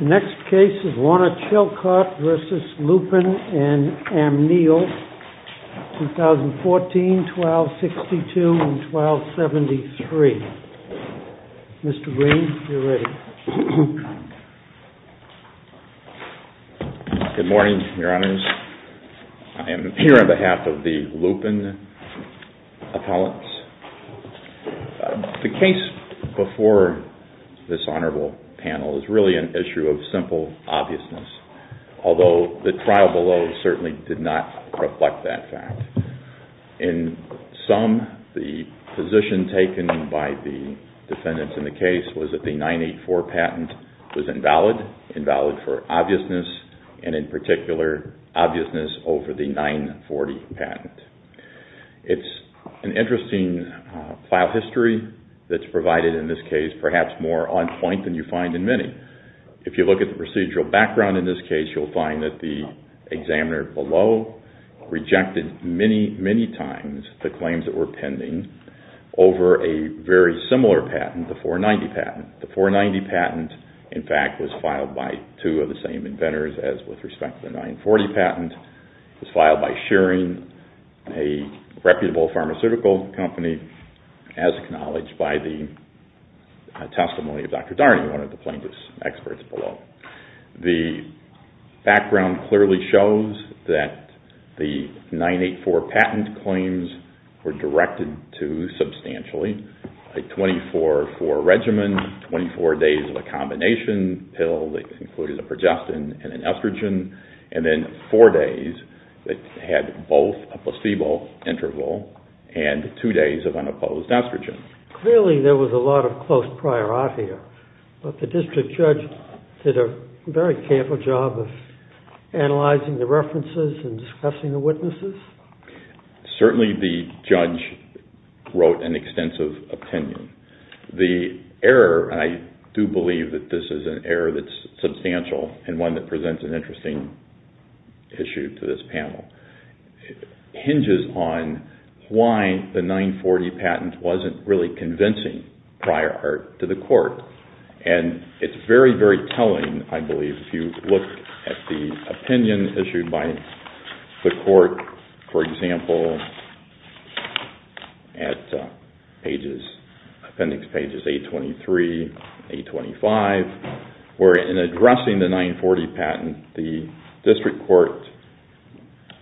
The next case is Warner Chilcott v. Lupin & Amneal, 2014-1262-1273. Mr. Green, you're ready. Good morning, Your Honors. I am here on behalf of the Lupin appellants. The case before this honorable panel is really an issue of simple obviousness, although the trial below certainly did not reflect that fact. In sum, the position taken by the defendants in the case was that a 984 patent was invalid, invalid for obviousness, and in particular, obviousness over the 940 patent. It's an interesting file history that's provided in this case, perhaps more on point than you find in many. If you look at the procedural background in this case, you'll find that the examiner below rejected many, many times the claims that were pending over a very similar patent, the 490 patent. The 490 patent, in fact, was filed by two of the same inventors as with respect to the 940 patent. It was filed by Shearing, a reputable pharmaceutical company, as acknowledged by the testimony of Dr. Darney, one of the plaintiffs' experts below. The background clearly shows that the 984 patent claims were directed to a 24-4 regimen, 24 days of a combination pill that included a progestin and an estrogen, and then four days that had both a placebo interval and two days of unopposed estrogen. Clearly there was a lot of close prior art here, but the district judge did a very careful job of analyzing the references and discussing the witnesses? Certainly the judge wrote an extensive opinion. The error, and I do believe that this is an error that's substantial and one that presents an interesting issue to this panel, hinges on why the 940 patent wasn't really convincing prior art to the court. And it's very, very troubling, I believe, if you look at the opinion issued by the court, for example, at appendix pages 823, 825, where in addressing the 940 patent, the district court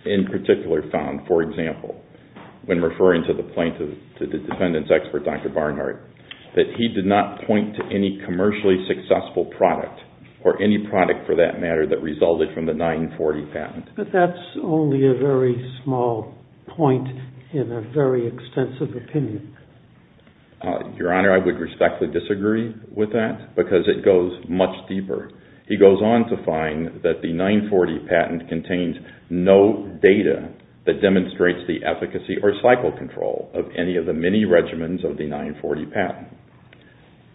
in particular found, for example, when referring to the plaintiff, the defendant's expert, Dr. Barnhart, that he did not point to any commercially successful product or any product for that matter that resulted from the 940 patent. But that's only a very small point in a very extensive opinion. Your Honor, I would respectfully disagree with that because it goes much deeper. He goes on to find that the 940 patent contains no data that demonstrates the efficacy or cycle control of any of the many regimens of the 940 patent.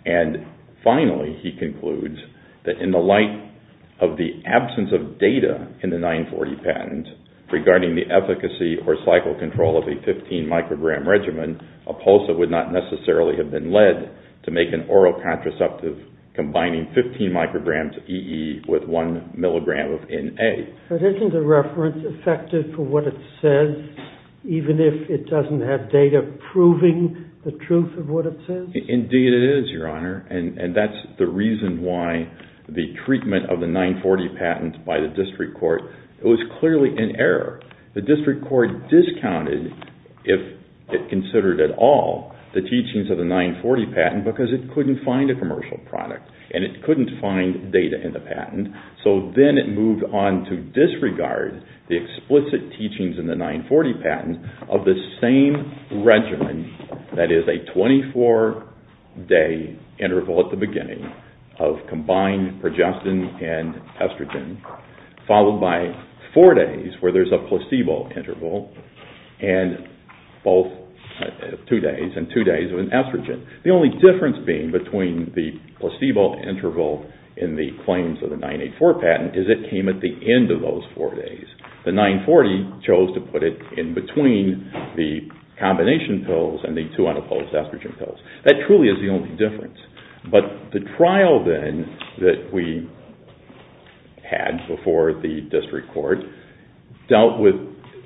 And finally, he concludes that in the light of the absence of data in the 940 patent regarding the efficacy or cycle control of a 15-microgram regimen, a PULSA would not necessarily have been led to make an oral contraceptive combining 15 micrograms of EE with 1 milligram of NA. But isn't the reference effective for what it says, even if it doesn't have data proving the truth of what it says? Indeed it is, Your Honor, and that's the reason why the treatment of the 940 patent by the district court was clearly in error. The district court discounted, if it considered at all, the teachings of the 940 patent because it couldn't find a commercial product, and it couldn't find data in the patent. So then it moved on to disregard the explicit teachings in the 940 patent of the same regimen that is a 24-day interval at the beginning of combined progestin and estrogen, followed by four days where there's a placebo interval, and two days of an estrogen. The only difference being between the placebo interval in the claims of the 984 patent is it came at the end of those four days. The 940 chose to put it in between the combination pills and the two unopposed estrogen pills. That truly is the only difference. But the trial then that we had before the district court dealt with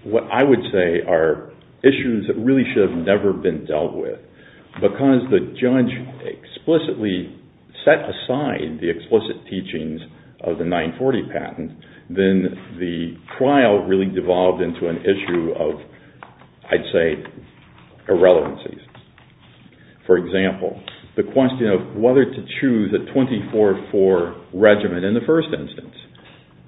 what I would say are issues that really should have never been dealt with. Because the judge explicitly set aside the explicit teachings of the 940 patent, then the trial really devolved into an issue of, I'd say, irrelevancies. For example, the question of whether to choose a 24-4 regimen in the first instance.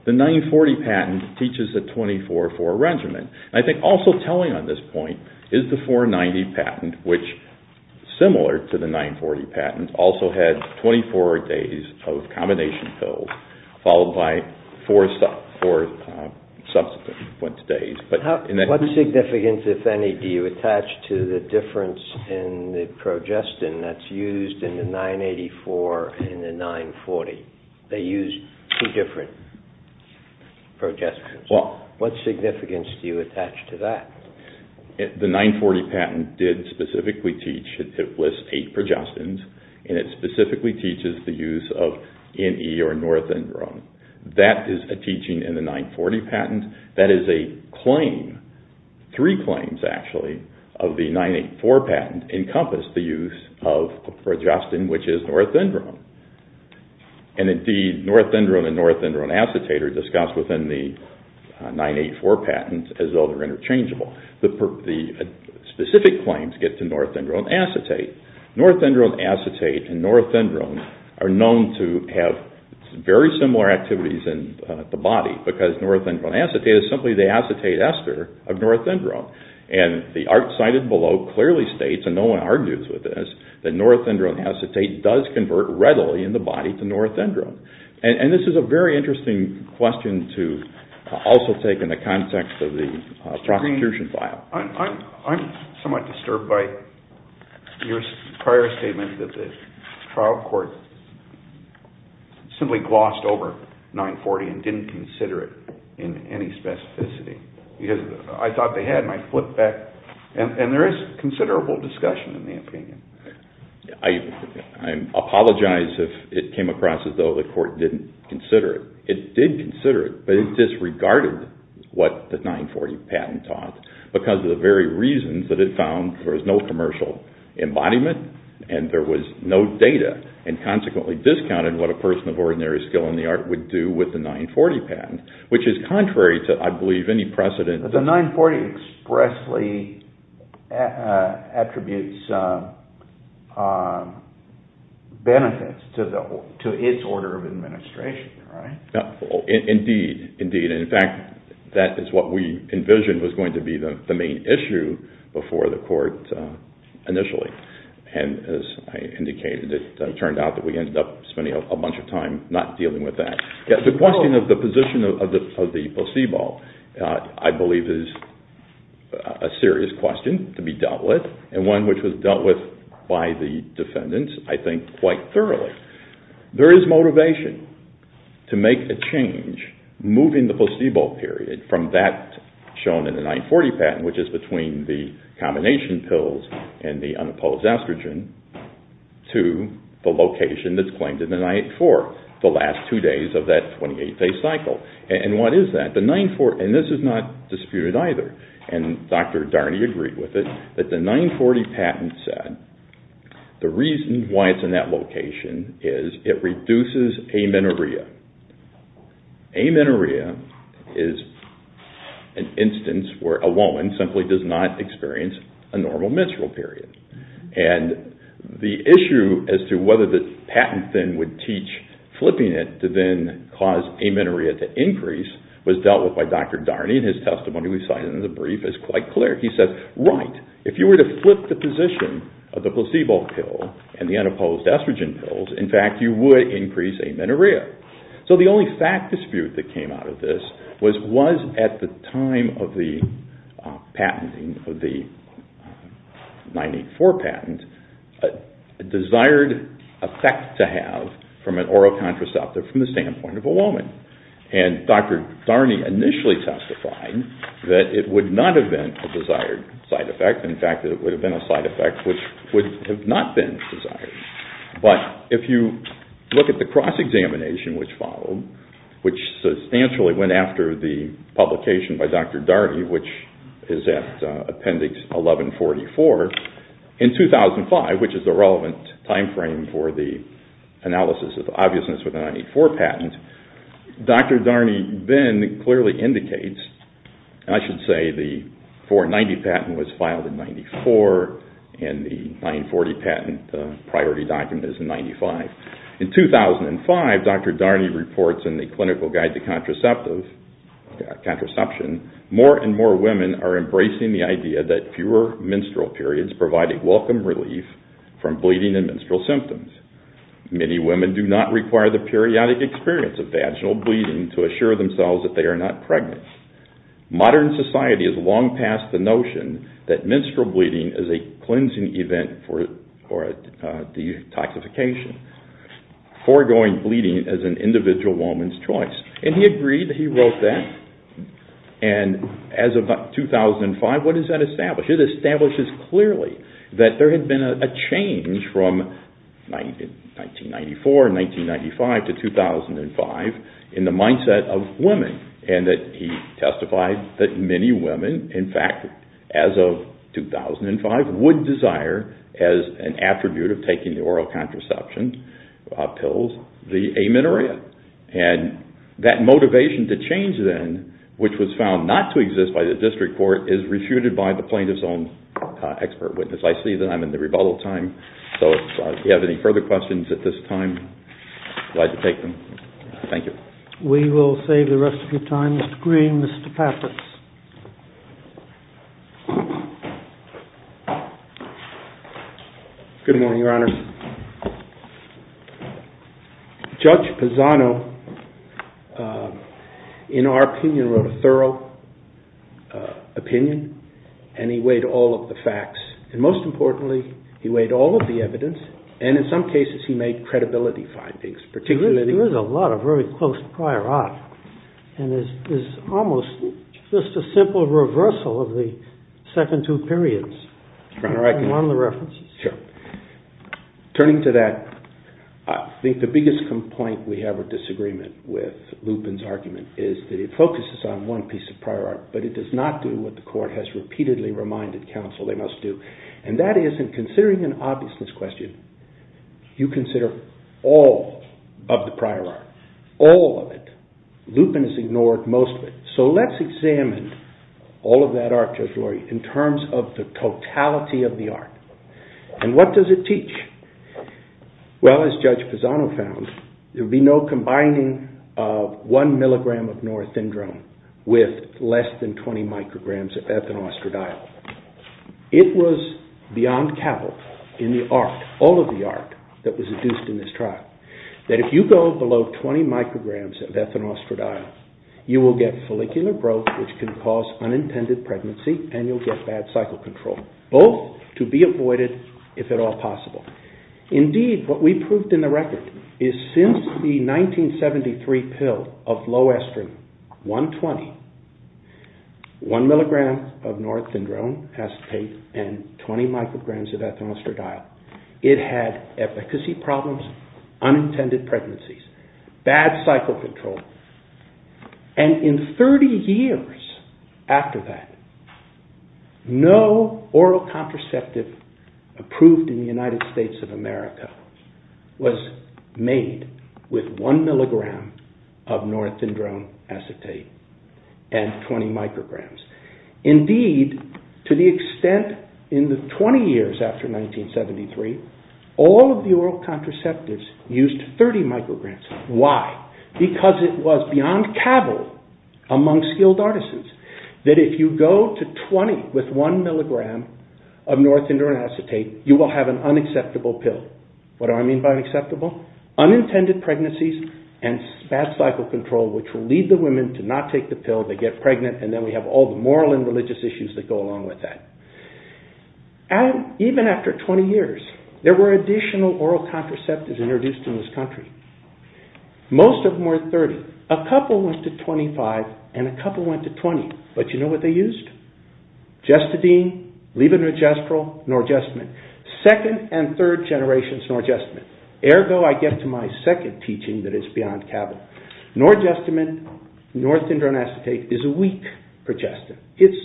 The 940 patent teaches a 24-4 regimen. I think also telling on this point is the 490 patent, which, similar to the 940 patent, also had 24 days of combination pills, followed by four subsequent days. What significance, if any, do you attach to the difference in the progestin that's used in the 984 and the 940? They use two different progestins. What significance do you attach to that? The 940 patent did specifically teach, it lists eight progestins, and it specifically teaches the use of NE or norethindrone. That is a teaching in the 940 patent. That is a claim, three claims actually, of the 984 patent encompass the use of progestin, which is norethindrone. Indeed, norethindrone and norethindrone acetate are discussed within the 984 patent as though they're interchangeable. The specific claims get to norethindrone acetate. Norethindrone acetate and norethindrone are known to have very similar activities in the body because norethindrone acetate is simply the acetate ester of norethindrone. The art cited below clearly states, and no one argues with this, that norethindrone acetate does convert readily in the body to norethindrone. This is a very interesting question to also take in the context of the prosecution file. I'm somewhat disturbed by your prior statement that the trial court simply glossed over 940 and didn't consider it in any specificity. I thought they had my foot back. And there is considerable discussion in the opinion. I apologize if it came across as though the court didn't consider it. It did consider it, but it disregarded what the 940 patent taught because of the very reasons that it found there was no commercial embodiment and there was no data and consequently discounted what a person of ordinary skill in the art would do with the 940 patent, which is contrary to, I believe, any precedent. The 940 expressly attributes benefits to its order of administration, right? Indeed, indeed. In fact, that is what we envisioned was going to be the main issue before the court initially. And as I indicated, it turned out that we ended up spending a bunch of time not dealing with that. The question of the position of the placebo, I believe, is a serious question to be dealt with and one which was dealt with by the defendants, I think, quite thoroughly. There is motivation to make a change, moving the placebo period from that shown in the 940 patent, which is between the combination pills and the unopposed estrogen, to the location that's claimed in the 984, the last two days of that 28-day cycle. And what is that? The 940, and this is not disputed either, and Dr. Darney agreed with it, but the 940 patent said the reason why it's in that location is it reduces amenorrhea. Amenorrhea is an instance where a woman simply does not experience a normal menstrual period. And the issue as to whether the patent then would teach flipping it to then cause amenorrhea to increase was dealt with by Dr. Darney in his testimony we cited in the brief is quite clear. He said, right, if you were to flip the position of the placebo pill and the unopposed estrogen pills, in fact, you would increase amenorrhea. So the only fact dispute that came out of this was was at the time of the patenting of the 984 patent a desired effect to have from an oral contraceptive from the standpoint of a woman. And Dr. Darney initially testified that it would not have been a desired side effect. In fact, it would have been a side effect which would have not been desired. But if you look at the cross-examination which followed, which substantially went after the publication by Dr. Darney, which is at Appendix 1144, in 2005, which is the relevant time frame for the analysis of the obviousness of the 984 patent, Dr. Darney then clearly indicates, and I should say the 490 patent was filed in 94 and the 940 patent, the priority document is in 95. In 2005, Dr. Darney reports in the Clinical Guide to Contraception, more and more women are embracing the idea that fewer menstrual periods provide a welcome relief from bleeding and menstrual symptoms. Many women do not require the periodic experience of vaginal bleeding to assure themselves that they are not pregnant. Modern society is long past the notion that menstrual bleeding is a cleansing event for detoxification. Foregoing bleeding is an individual woman's choice. And he agreed that he wrote that. And as of 2005, what does that establish? It establishes clearly that there had been a change from 1994 and 1995 to 2005 in the mindset of women, and that he testified that many women, in fact, as of 2005, would desire, as an attribute of taking the oral contraception pills, the amenorrhea. And that motivation to change then, which was found not to exist by the district court, is refuted by the plaintiff's own expert witness. I see that I'm in the rebuttal time, so if you have any further questions at this time, I'd like to take them. Thank you. We will save the rest of your time. Mr. Green, Mr. Pappas. Good morning, Your Honor. Judge Pisano, in our opinion, wrote a thorough opinion, and he weighed all of the facts. And most importantly, he weighed all of the evidence. And in some cases, he made credibility findings, particularly— There is a lot of very close prior art, and it's almost just a simple reversal of the second two periods. Your Honor, I— Among the references. Sure. Turning to that, I think the biggest complaint we have or disagreement with Lupin's argument is that it focuses on one piece of prior art, but it does not do what the court has repeatedly reminded counsel they must do. And that is, in considering an obviousness question, you consider all of the prior art. All of it. Lupin has ignored most of it. So let's examine all of that art, Judge Lurie, in terms of the totality of the art. And what does it teach? Well, as Judge Pisano found, there would be no combining of one milligram of norethindrome with less than 20 micrograms of ethinostradiol. It was beyond capital in the art, all of the art, that was induced in this trial, that if you go below 20 micrograms of ethinostradiol, you will get follicular growth, which can cause unintended pregnancy, and you'll get bad cycle control. Both to be avoided, if at all possible. Indeed, what we proved in the record is since the 1973 pill of low estrin, 120, one milligram of norethindrome acetate and 20 micrograms of ethinostradiol, it had efficacy problems, unintended pregnancies, bad cycle control, and in 30 years after that, no oral contraceptive approved in the United States of America was made with one milligram of norethindrome acetate and 20 micrograms. Indeed, to the extent in the 20 years after 1973, all of the oral contraceptives used 30 micrograms. Why? Because it was beyond capital among skilled artisans, that if you go to 20 with one milligram of norethindrome acetate, you will have an unacceptable pill. What do I mean by acceptable? Unintended pregnancies and bad cycle control, which will lead the women to not take the pill, they get pregnant, and then we have all the moral and religious issues that go along with that. Even after 20 years, there were additional oral contraceptives introduced in this country. Most of them were 30. A couple went to 25, and a couple went to 20. But you know what they used? Gestadine, levonorgestrel, norgestamine. Second and third generations norgestamine. Ergo, I get to my second teaching that it's beyond capital. Norgestamine, northindrome acetate, is a weak progestin. It's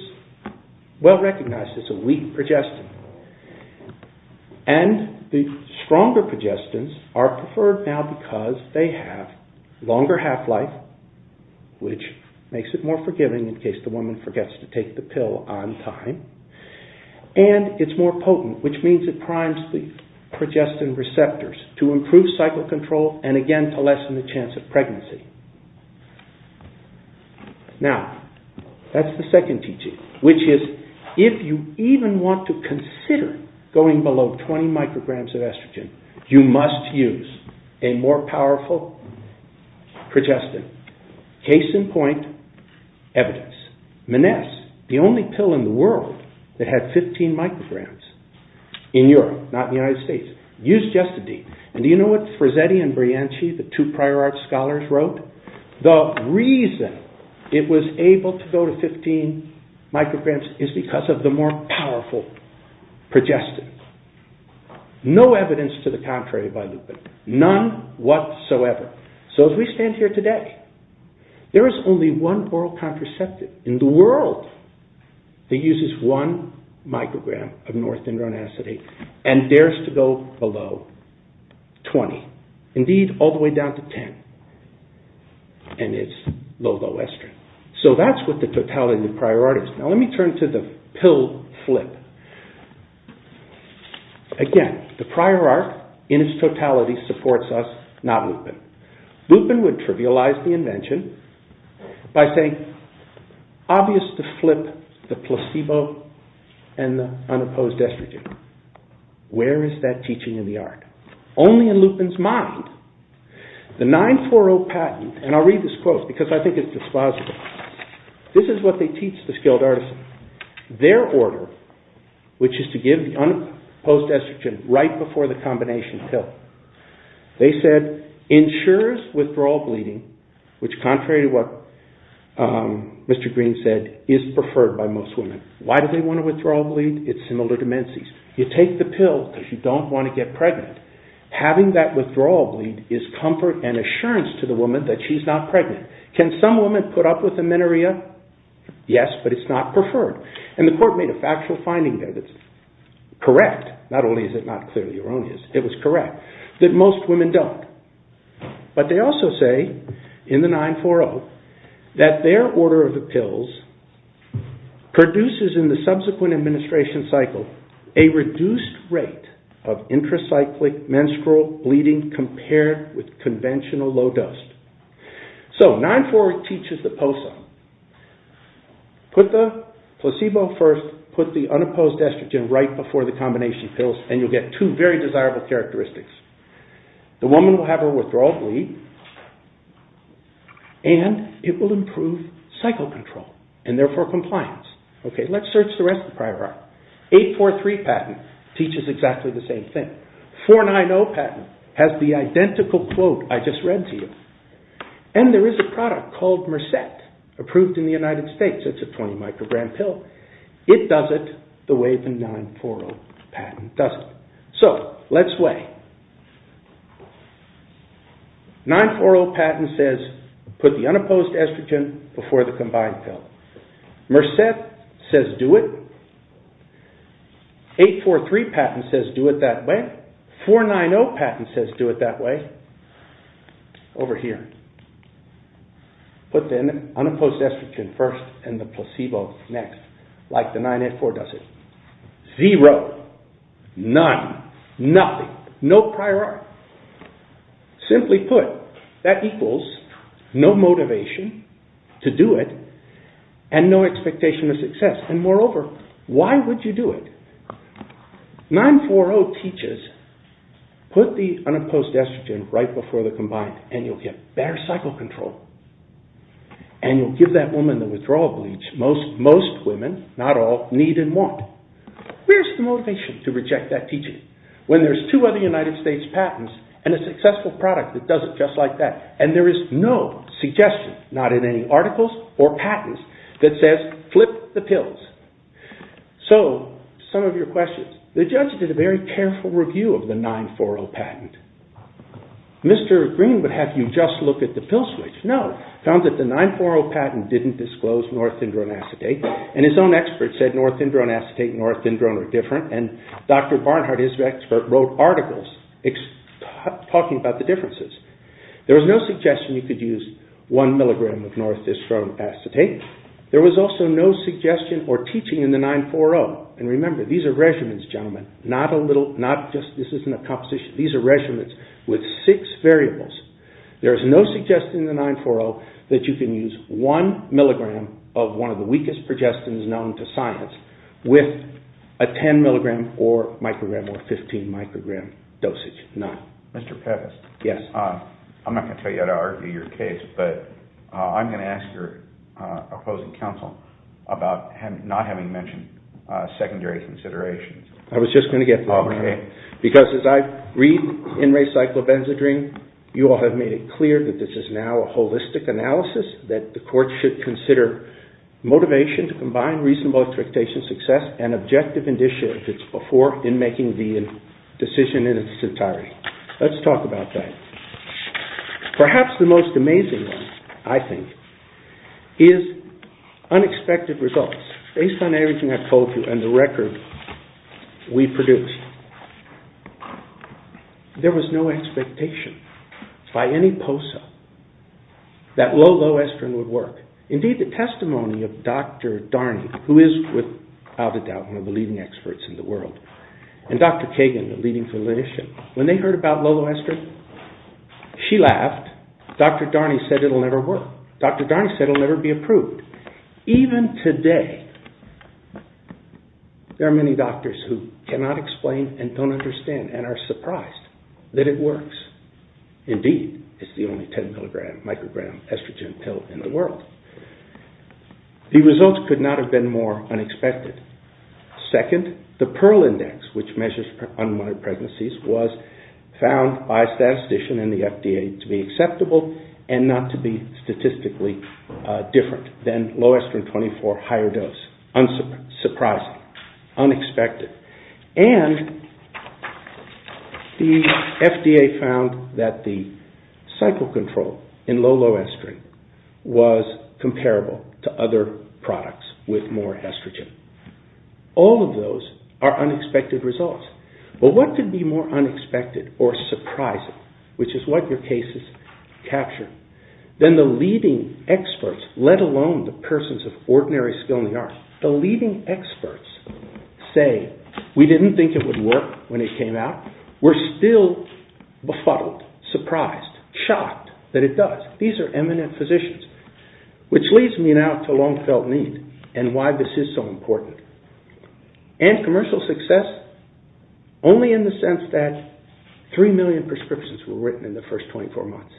well recognized as a weak progestin. And the stronger progestins are preferred now because they have longer half-life, which makes it more forgiving in case the woman forgets to take the pill on time. And it's more potent, which means it primes the progestin receptors to improve cycle control and again to lessen the chance of pregnancy. Now, that's the second teaching, which is, if you even want to consider going below 20 micrograms of estrogen, you must use a more powerful progestin. Case in point, Evidence. Menace, the only pill in the world that had 15 micrograms in Europe, not in the United States, used Gestadine. And do you know what Frizzetti and Brianchi, the two prior art scholars, wrote? The reason it was able to go to 15 micrograms is because of the more powerful progestin. No evidence to the contrary by Lupin. None whatsoever. So as we stand here today, there is only one oral contraceptive in the world that uses one microgram of northindrome acetate and dares to go below 20. Indeed, all the way down to 10. And it's low, low estrogen. So that's what the totality of the prior art is. Now let me turn to the pill flip. Again, the prior art in its totality supports us, not Lupin. Lupin would trivialize the invention by saying, obvious to flip the placebo and the unopposed estrogen. Where is that teaching in the art? Only in Lupin's mind. The 940 patent, and I'll read this quote because I think it's dispositive, this is what they teach the skilled artisans. Their order, which is to give the unopposed estrogen right before the combination pill. They said, ensures withdrawal bleeding, which contrary to what Mr. Green said, is preferred by most women. Why do they want to withdraw bleed? It's similar to menses. You take the pill because you don't want to get pregnant. Having that withdrawal bleed is comfort and assurance to the woman that she's not pregnant. Can some woman put up with amenorrhea? Yes, but it's not preferred. And the court made a factual finding there that's correct, not only is it not clearly erroneous, it was correct, that most women don't. But they also say in the 940 that their order of the pills produces in the subsequent administration cycle a reduced rate of intracyclic menstrual bleeding compared with conventional low dose. So, 940 teaches the POSA. Put the placebo first, put the unopposed estrogen right before the combination pills, and you'll get two very desirable characteristics. The woman will have her withdrawal bleed, and it will improve cycle control, and therefore compliance. Let's search the rest of the prior art. 843 patent teaches exactly the same thing. 490 patent has the identical quote I just read to you. And there is a product called Mercet, approved in the United States. It's a 20 microgram pill. It does it the way the 940 patent does it. So, let's weigh. 940 patent says put the unopposed estrogen before the combined pill. Mercet says do it. 843 patent says do it that way. 490 patent says do it that way. Over here. Put the unopposed estrogen first and the placebo next, like the 984 does it. Zero. None. Nothing. No prior art. Simply put, that equals no motivation to do it and no expectation of success. And moreover, why would you do it? 940 teaches put the unopposed estrogen right before the combined and you'll get better cycle control. And you'll give that woman the withdrawal bleach most women, not all, need and want. Where's the motivation to reject that teaching? When there's two other United States patents and a successful product that does it just like that. And there is no suggestion, not in any articles or patents, that says flip the pills. So, some of your questions. The judge did a very careful review of the 940 patent. Mr. Green would have you just look at the pill switch. No. He found that the 940 patent didn't disclose norethindrone acetate. And his own expert said norethindrone acetate and norethindrone are different. And Dr. Barnhart, his expert, wrote articles talking about the differences. There was no suggestion you could use one milligram of norethindrone acetate. There was also no suggestion or teaching in the 940. And remember, these are regimens, gentlemen. This isn't a composition. These are regimens with six variables. There is no suggestion in the 940 that you can use one milligram of one of the weakest progestins known to science with a 10 milligram or microgram or 15 microgram dosage. No. Mr. Pettis. Yes. I'm not going to tell you how to argue your case, but I'm going to ask your opposing counsel about not having mentioned secondary considerations. I was just going to get that. Okay. Because as I read in Recyclobenzadrine, you all have made it clear that this is now a holistic analysis, that the court should consider motivation to combine reasonable expectation, success, and objective indicia if it's before in making the decision in its entirety. Let's talk about that. Perhaps the most amazing one, I think, is unexpected results. Based on everything I've told you and the record we produced, there was no expectation by any POSA that Loloestrin would work. Indeed, the testimony of Dr. Darney, who is without a doubt one of the leading experts in the world, and Dr. Kagan, the leading clinician, when they heard about Loloestrin, she laughed. Dr. Darney said it will never work. Dr. Darney said it will never be approved. Even today, there are many doctors who cannot explain and don't understand and are surprised that it works. Indeed, it's the only 10-milligram microgram estrogen pill in the world. The results could not have been more unexpected. Second, the PERL index, which measures unwanted pregnancies, was found by a statistician in the FDA to be acceptable and not to be statistically different than Loloestrin 24 higher dose. Unsurprising. Unexpected. And the FDA found that the cycle control in Loloestrin was comparable to other products with more estrogen. All of those are unexpected results. But what could be more unexpected or surprising, which is what your cases capture, than the leading experts, let alone the persons of ordinary skill in the arts. The leading experts say, we didn't think it would work when it came out. We're still befuddled, surprised, shocked that it does. These are eminent physicians. Which leads me now to long felt need and why this is so important. And commercial success only in the sense that 3 million prescriptions were written in the first 24 months.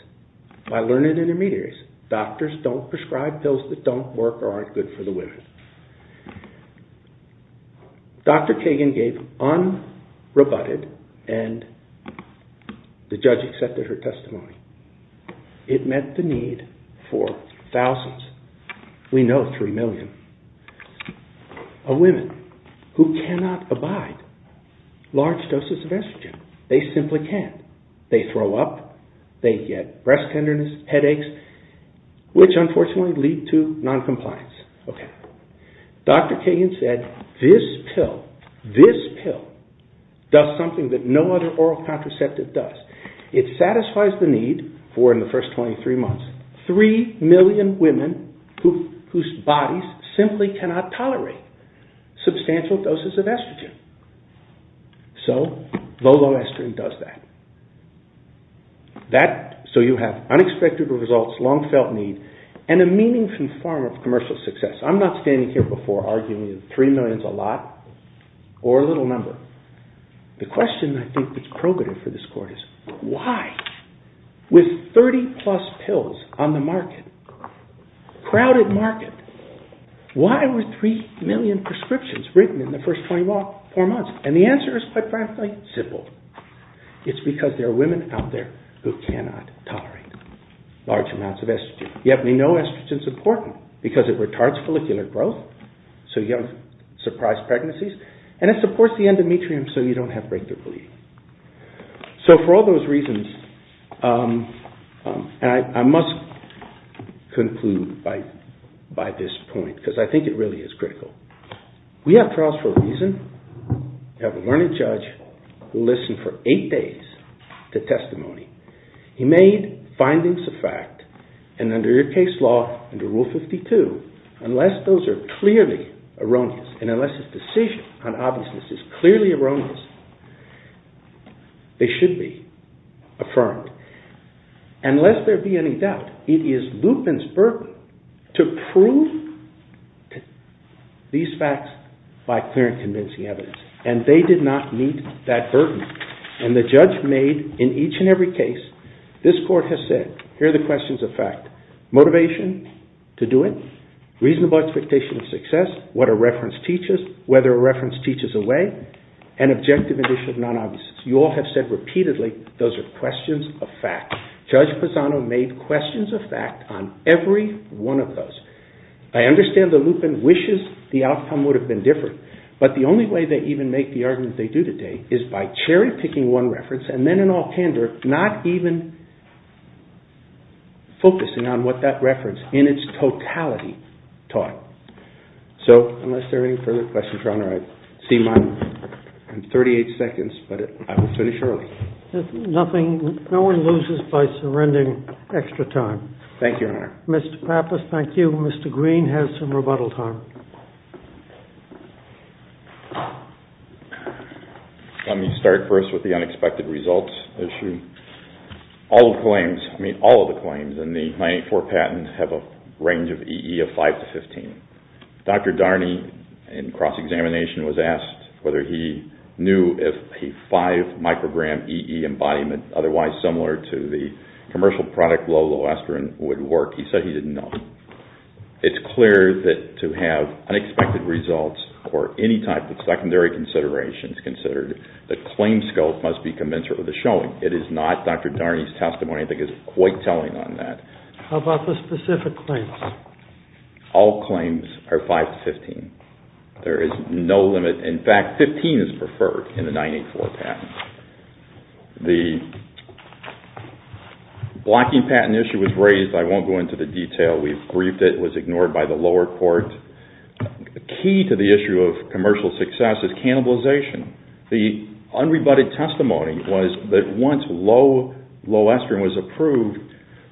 By learned intermediaries. Doctors don't prescribe pills that don't work or aren't good for the women. Dr. Kagan gave unrebutted and the judge accepted her testimony. It met the need for thousands. We know 3 million. A woman who cannot abide large doses of estrogen. They simply can't. They throw up, they get breast tenderness, headaches, which unfortunately lead to noncompliance. Dr. Kagan said, this pill does something that no other oral contraceptive does. It satisfies the need for, in the first 23 months, 3 million women whose bodies simply cannot tolerate substantial doses of estrogen. So, Lolo Estrin does that. So you have unexpected results, long felt need, and a meaningful form of commercial success. I'm not standing here before arguing that 3 million is a lot or a little number. The question I think that's probative for this court is, why? With 30 plus pills on the market, crowded market, why were 3 million prescriptions written in the first 24 months? And the answer is quite frankly, simple. It's because there are women out there who cannot tolerate large amounts of estrogen. You have to know estrogen is important because it retards follicular growth. So you have surprise pregnancies. And it supports the endometrium so you don't have breakthrough bleeding. So for all those reasons, and I must conclude by this point, because I think it really is critical. We have trials for a reason. We have a learned judge who listened for 8 days to testimony. He made findings of fact, and under your case law, under Rule 52, unless those are clearly erroneous, and unless his decision on obviousness is clearly erroneous, they should be affirmed. And lest there be any doubt, it is Lupin's burden to prove these facts by clear and convincing evidence. And they did not meet that burden. And the judge made, in each and every case, this court has said, here are the questions of fact, motivation to do it, reasonable expectation of success, what a reference teaches, whether a reference teaches a way, and objective edition of non-obviousness. You all have said repeatedly, those are questions of fact. Judge Pisano made questions of fact on every one of those. I understand that Lupin wishes the outcome would have been different. But the only way they even make the argument they do today is by cherry-picking one reference and then in all candor, not even focusing on what that reference in its totality taught. So unless there are any further questions, Your Honor, I see mine in 38 seconds, but I will finish early. If nothing, no one loses by surrendering extra time. Thank you, Your Honor. Mr. Pappas, thank you. Mr. Green has some rebuttal time. Let me start first with the unexpected results issue. All of the claims in the 984 patent have a range of EE of 5 to 15. Dr. Darney, in cross-examination, was asked whether he knew if a 5-microgram EE embodiment, otherwise similar to the commercial product low-low estrin, would work. He said he didn't know. It's clear that to have unexpected results or any type of secondary considerations considered, the claim scope must be commensurate with the showing. It is not Dr. Darney's testimony that is quite telling on that. How about the specific claims? All claims are 5 to 15. There is no limit. In fact, 15 is preferred in the 984 patent. The blocking patent issue was raised. I won't go into the detail. We've briefed it. It was ignored by the lower court. The key to the issue of commercial success is cannibalization. The unrebutted testimony was that once low-low estrin was approved,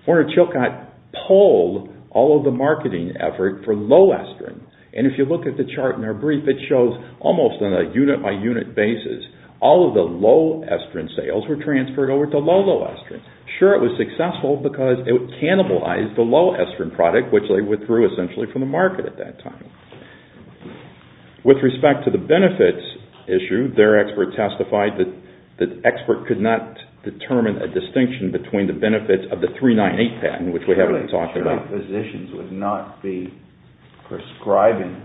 Werner Chilcott polled all of the marketing effort for low estrin. If you look at the chart in our brief, it shows, almost on a unit-by-unit basis, all of the low-estrin sales were transferred over to low-low estrin. Sure, it was successful because it cannibalized the low-estrin product, which they withdrew essentially from the market at that time. With respect to the benefits issue, their expert testified that the expert could not determine a distinction between the benefits of the 398 patent, which we haven't talked about. Physicians would not be prescribing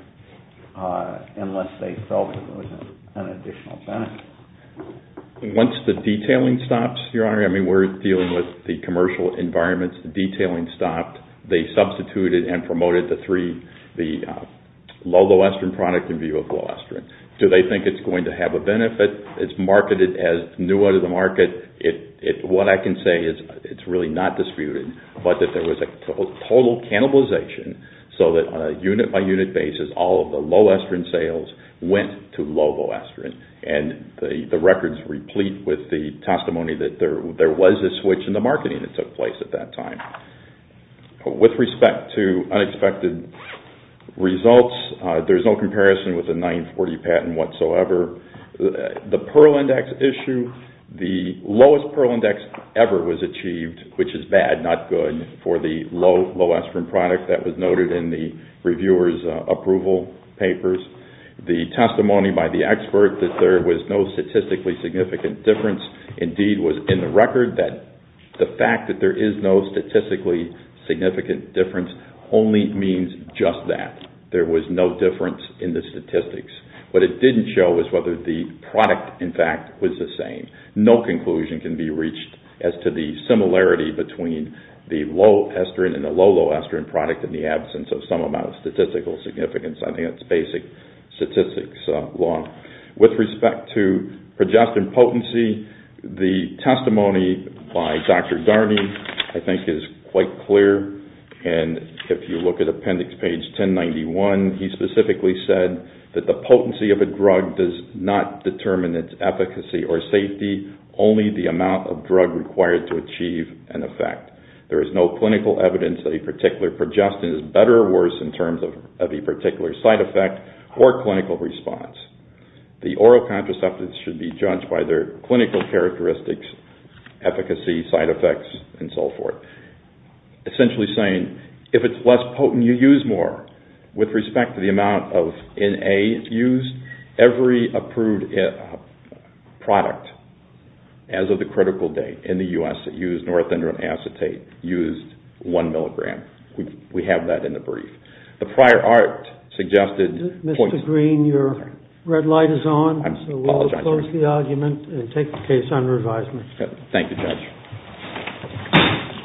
unless they felt there was an additional benefit. Once the detailing stops, Your Honor, I mean we're dealing with the commercial environments. The detailing stopped. They substituted and promoted the low-low estrin product in view of low estrin. Do they think it's going to have a benefit? It's marketed as new out of the market. What I can say is it's really not disputed, but that there was a total cannibalization so that on a unit-by-unit basis, all of the low-estrin sales went to low-low estrin. And the records replete with the testimony that there was a switch in the marketing that took place at that time. With respect to unexpected results, there's no comparison with the 940 patent whatsoever. The Pearl Index issue, the lowest Pearl Index ever was achieved, which is bad, not good, for the low-low estrin product that was noted in the reviewer's approval papers. The testimony by the expert that there was no statistically significant difference indeed was in the record that the fact that there is no statistically significant difference only means just that. There was no difference in the statistics. What it didn't show was whether the product, in fact, was the same. No conclusion can be reached as to the similarity between the low estrin and the low-low estrin product in the absence of some amount of statistical significance. I think that's basic statistics law. With respect to progestin potency, the testimony by Dr. Darney I think is quite clear. And if you look at appendix page 1091, he specifically said that the potency of a drug does not determine its efficacy or safety, only the amount of drug required to achieve an effect. There is no clinical evidence that a particular progestin is better or worse in terms of a particular side effect or clinical response. The oral contraceptives should be judged by their clinical characteristics, efficacy, side effects, and so forth. Essentially saying, if it's less potent, you use more. With respect to the amount of N.A. used, every approved product as of the critical date in the U.S. that used norepinephrine acetate used one milligram. We have that in the brief. The prior art suggested points to that. Mr. Green, your red light is on, so we'll close the argument and take the case under advisement. Thank you, Judge.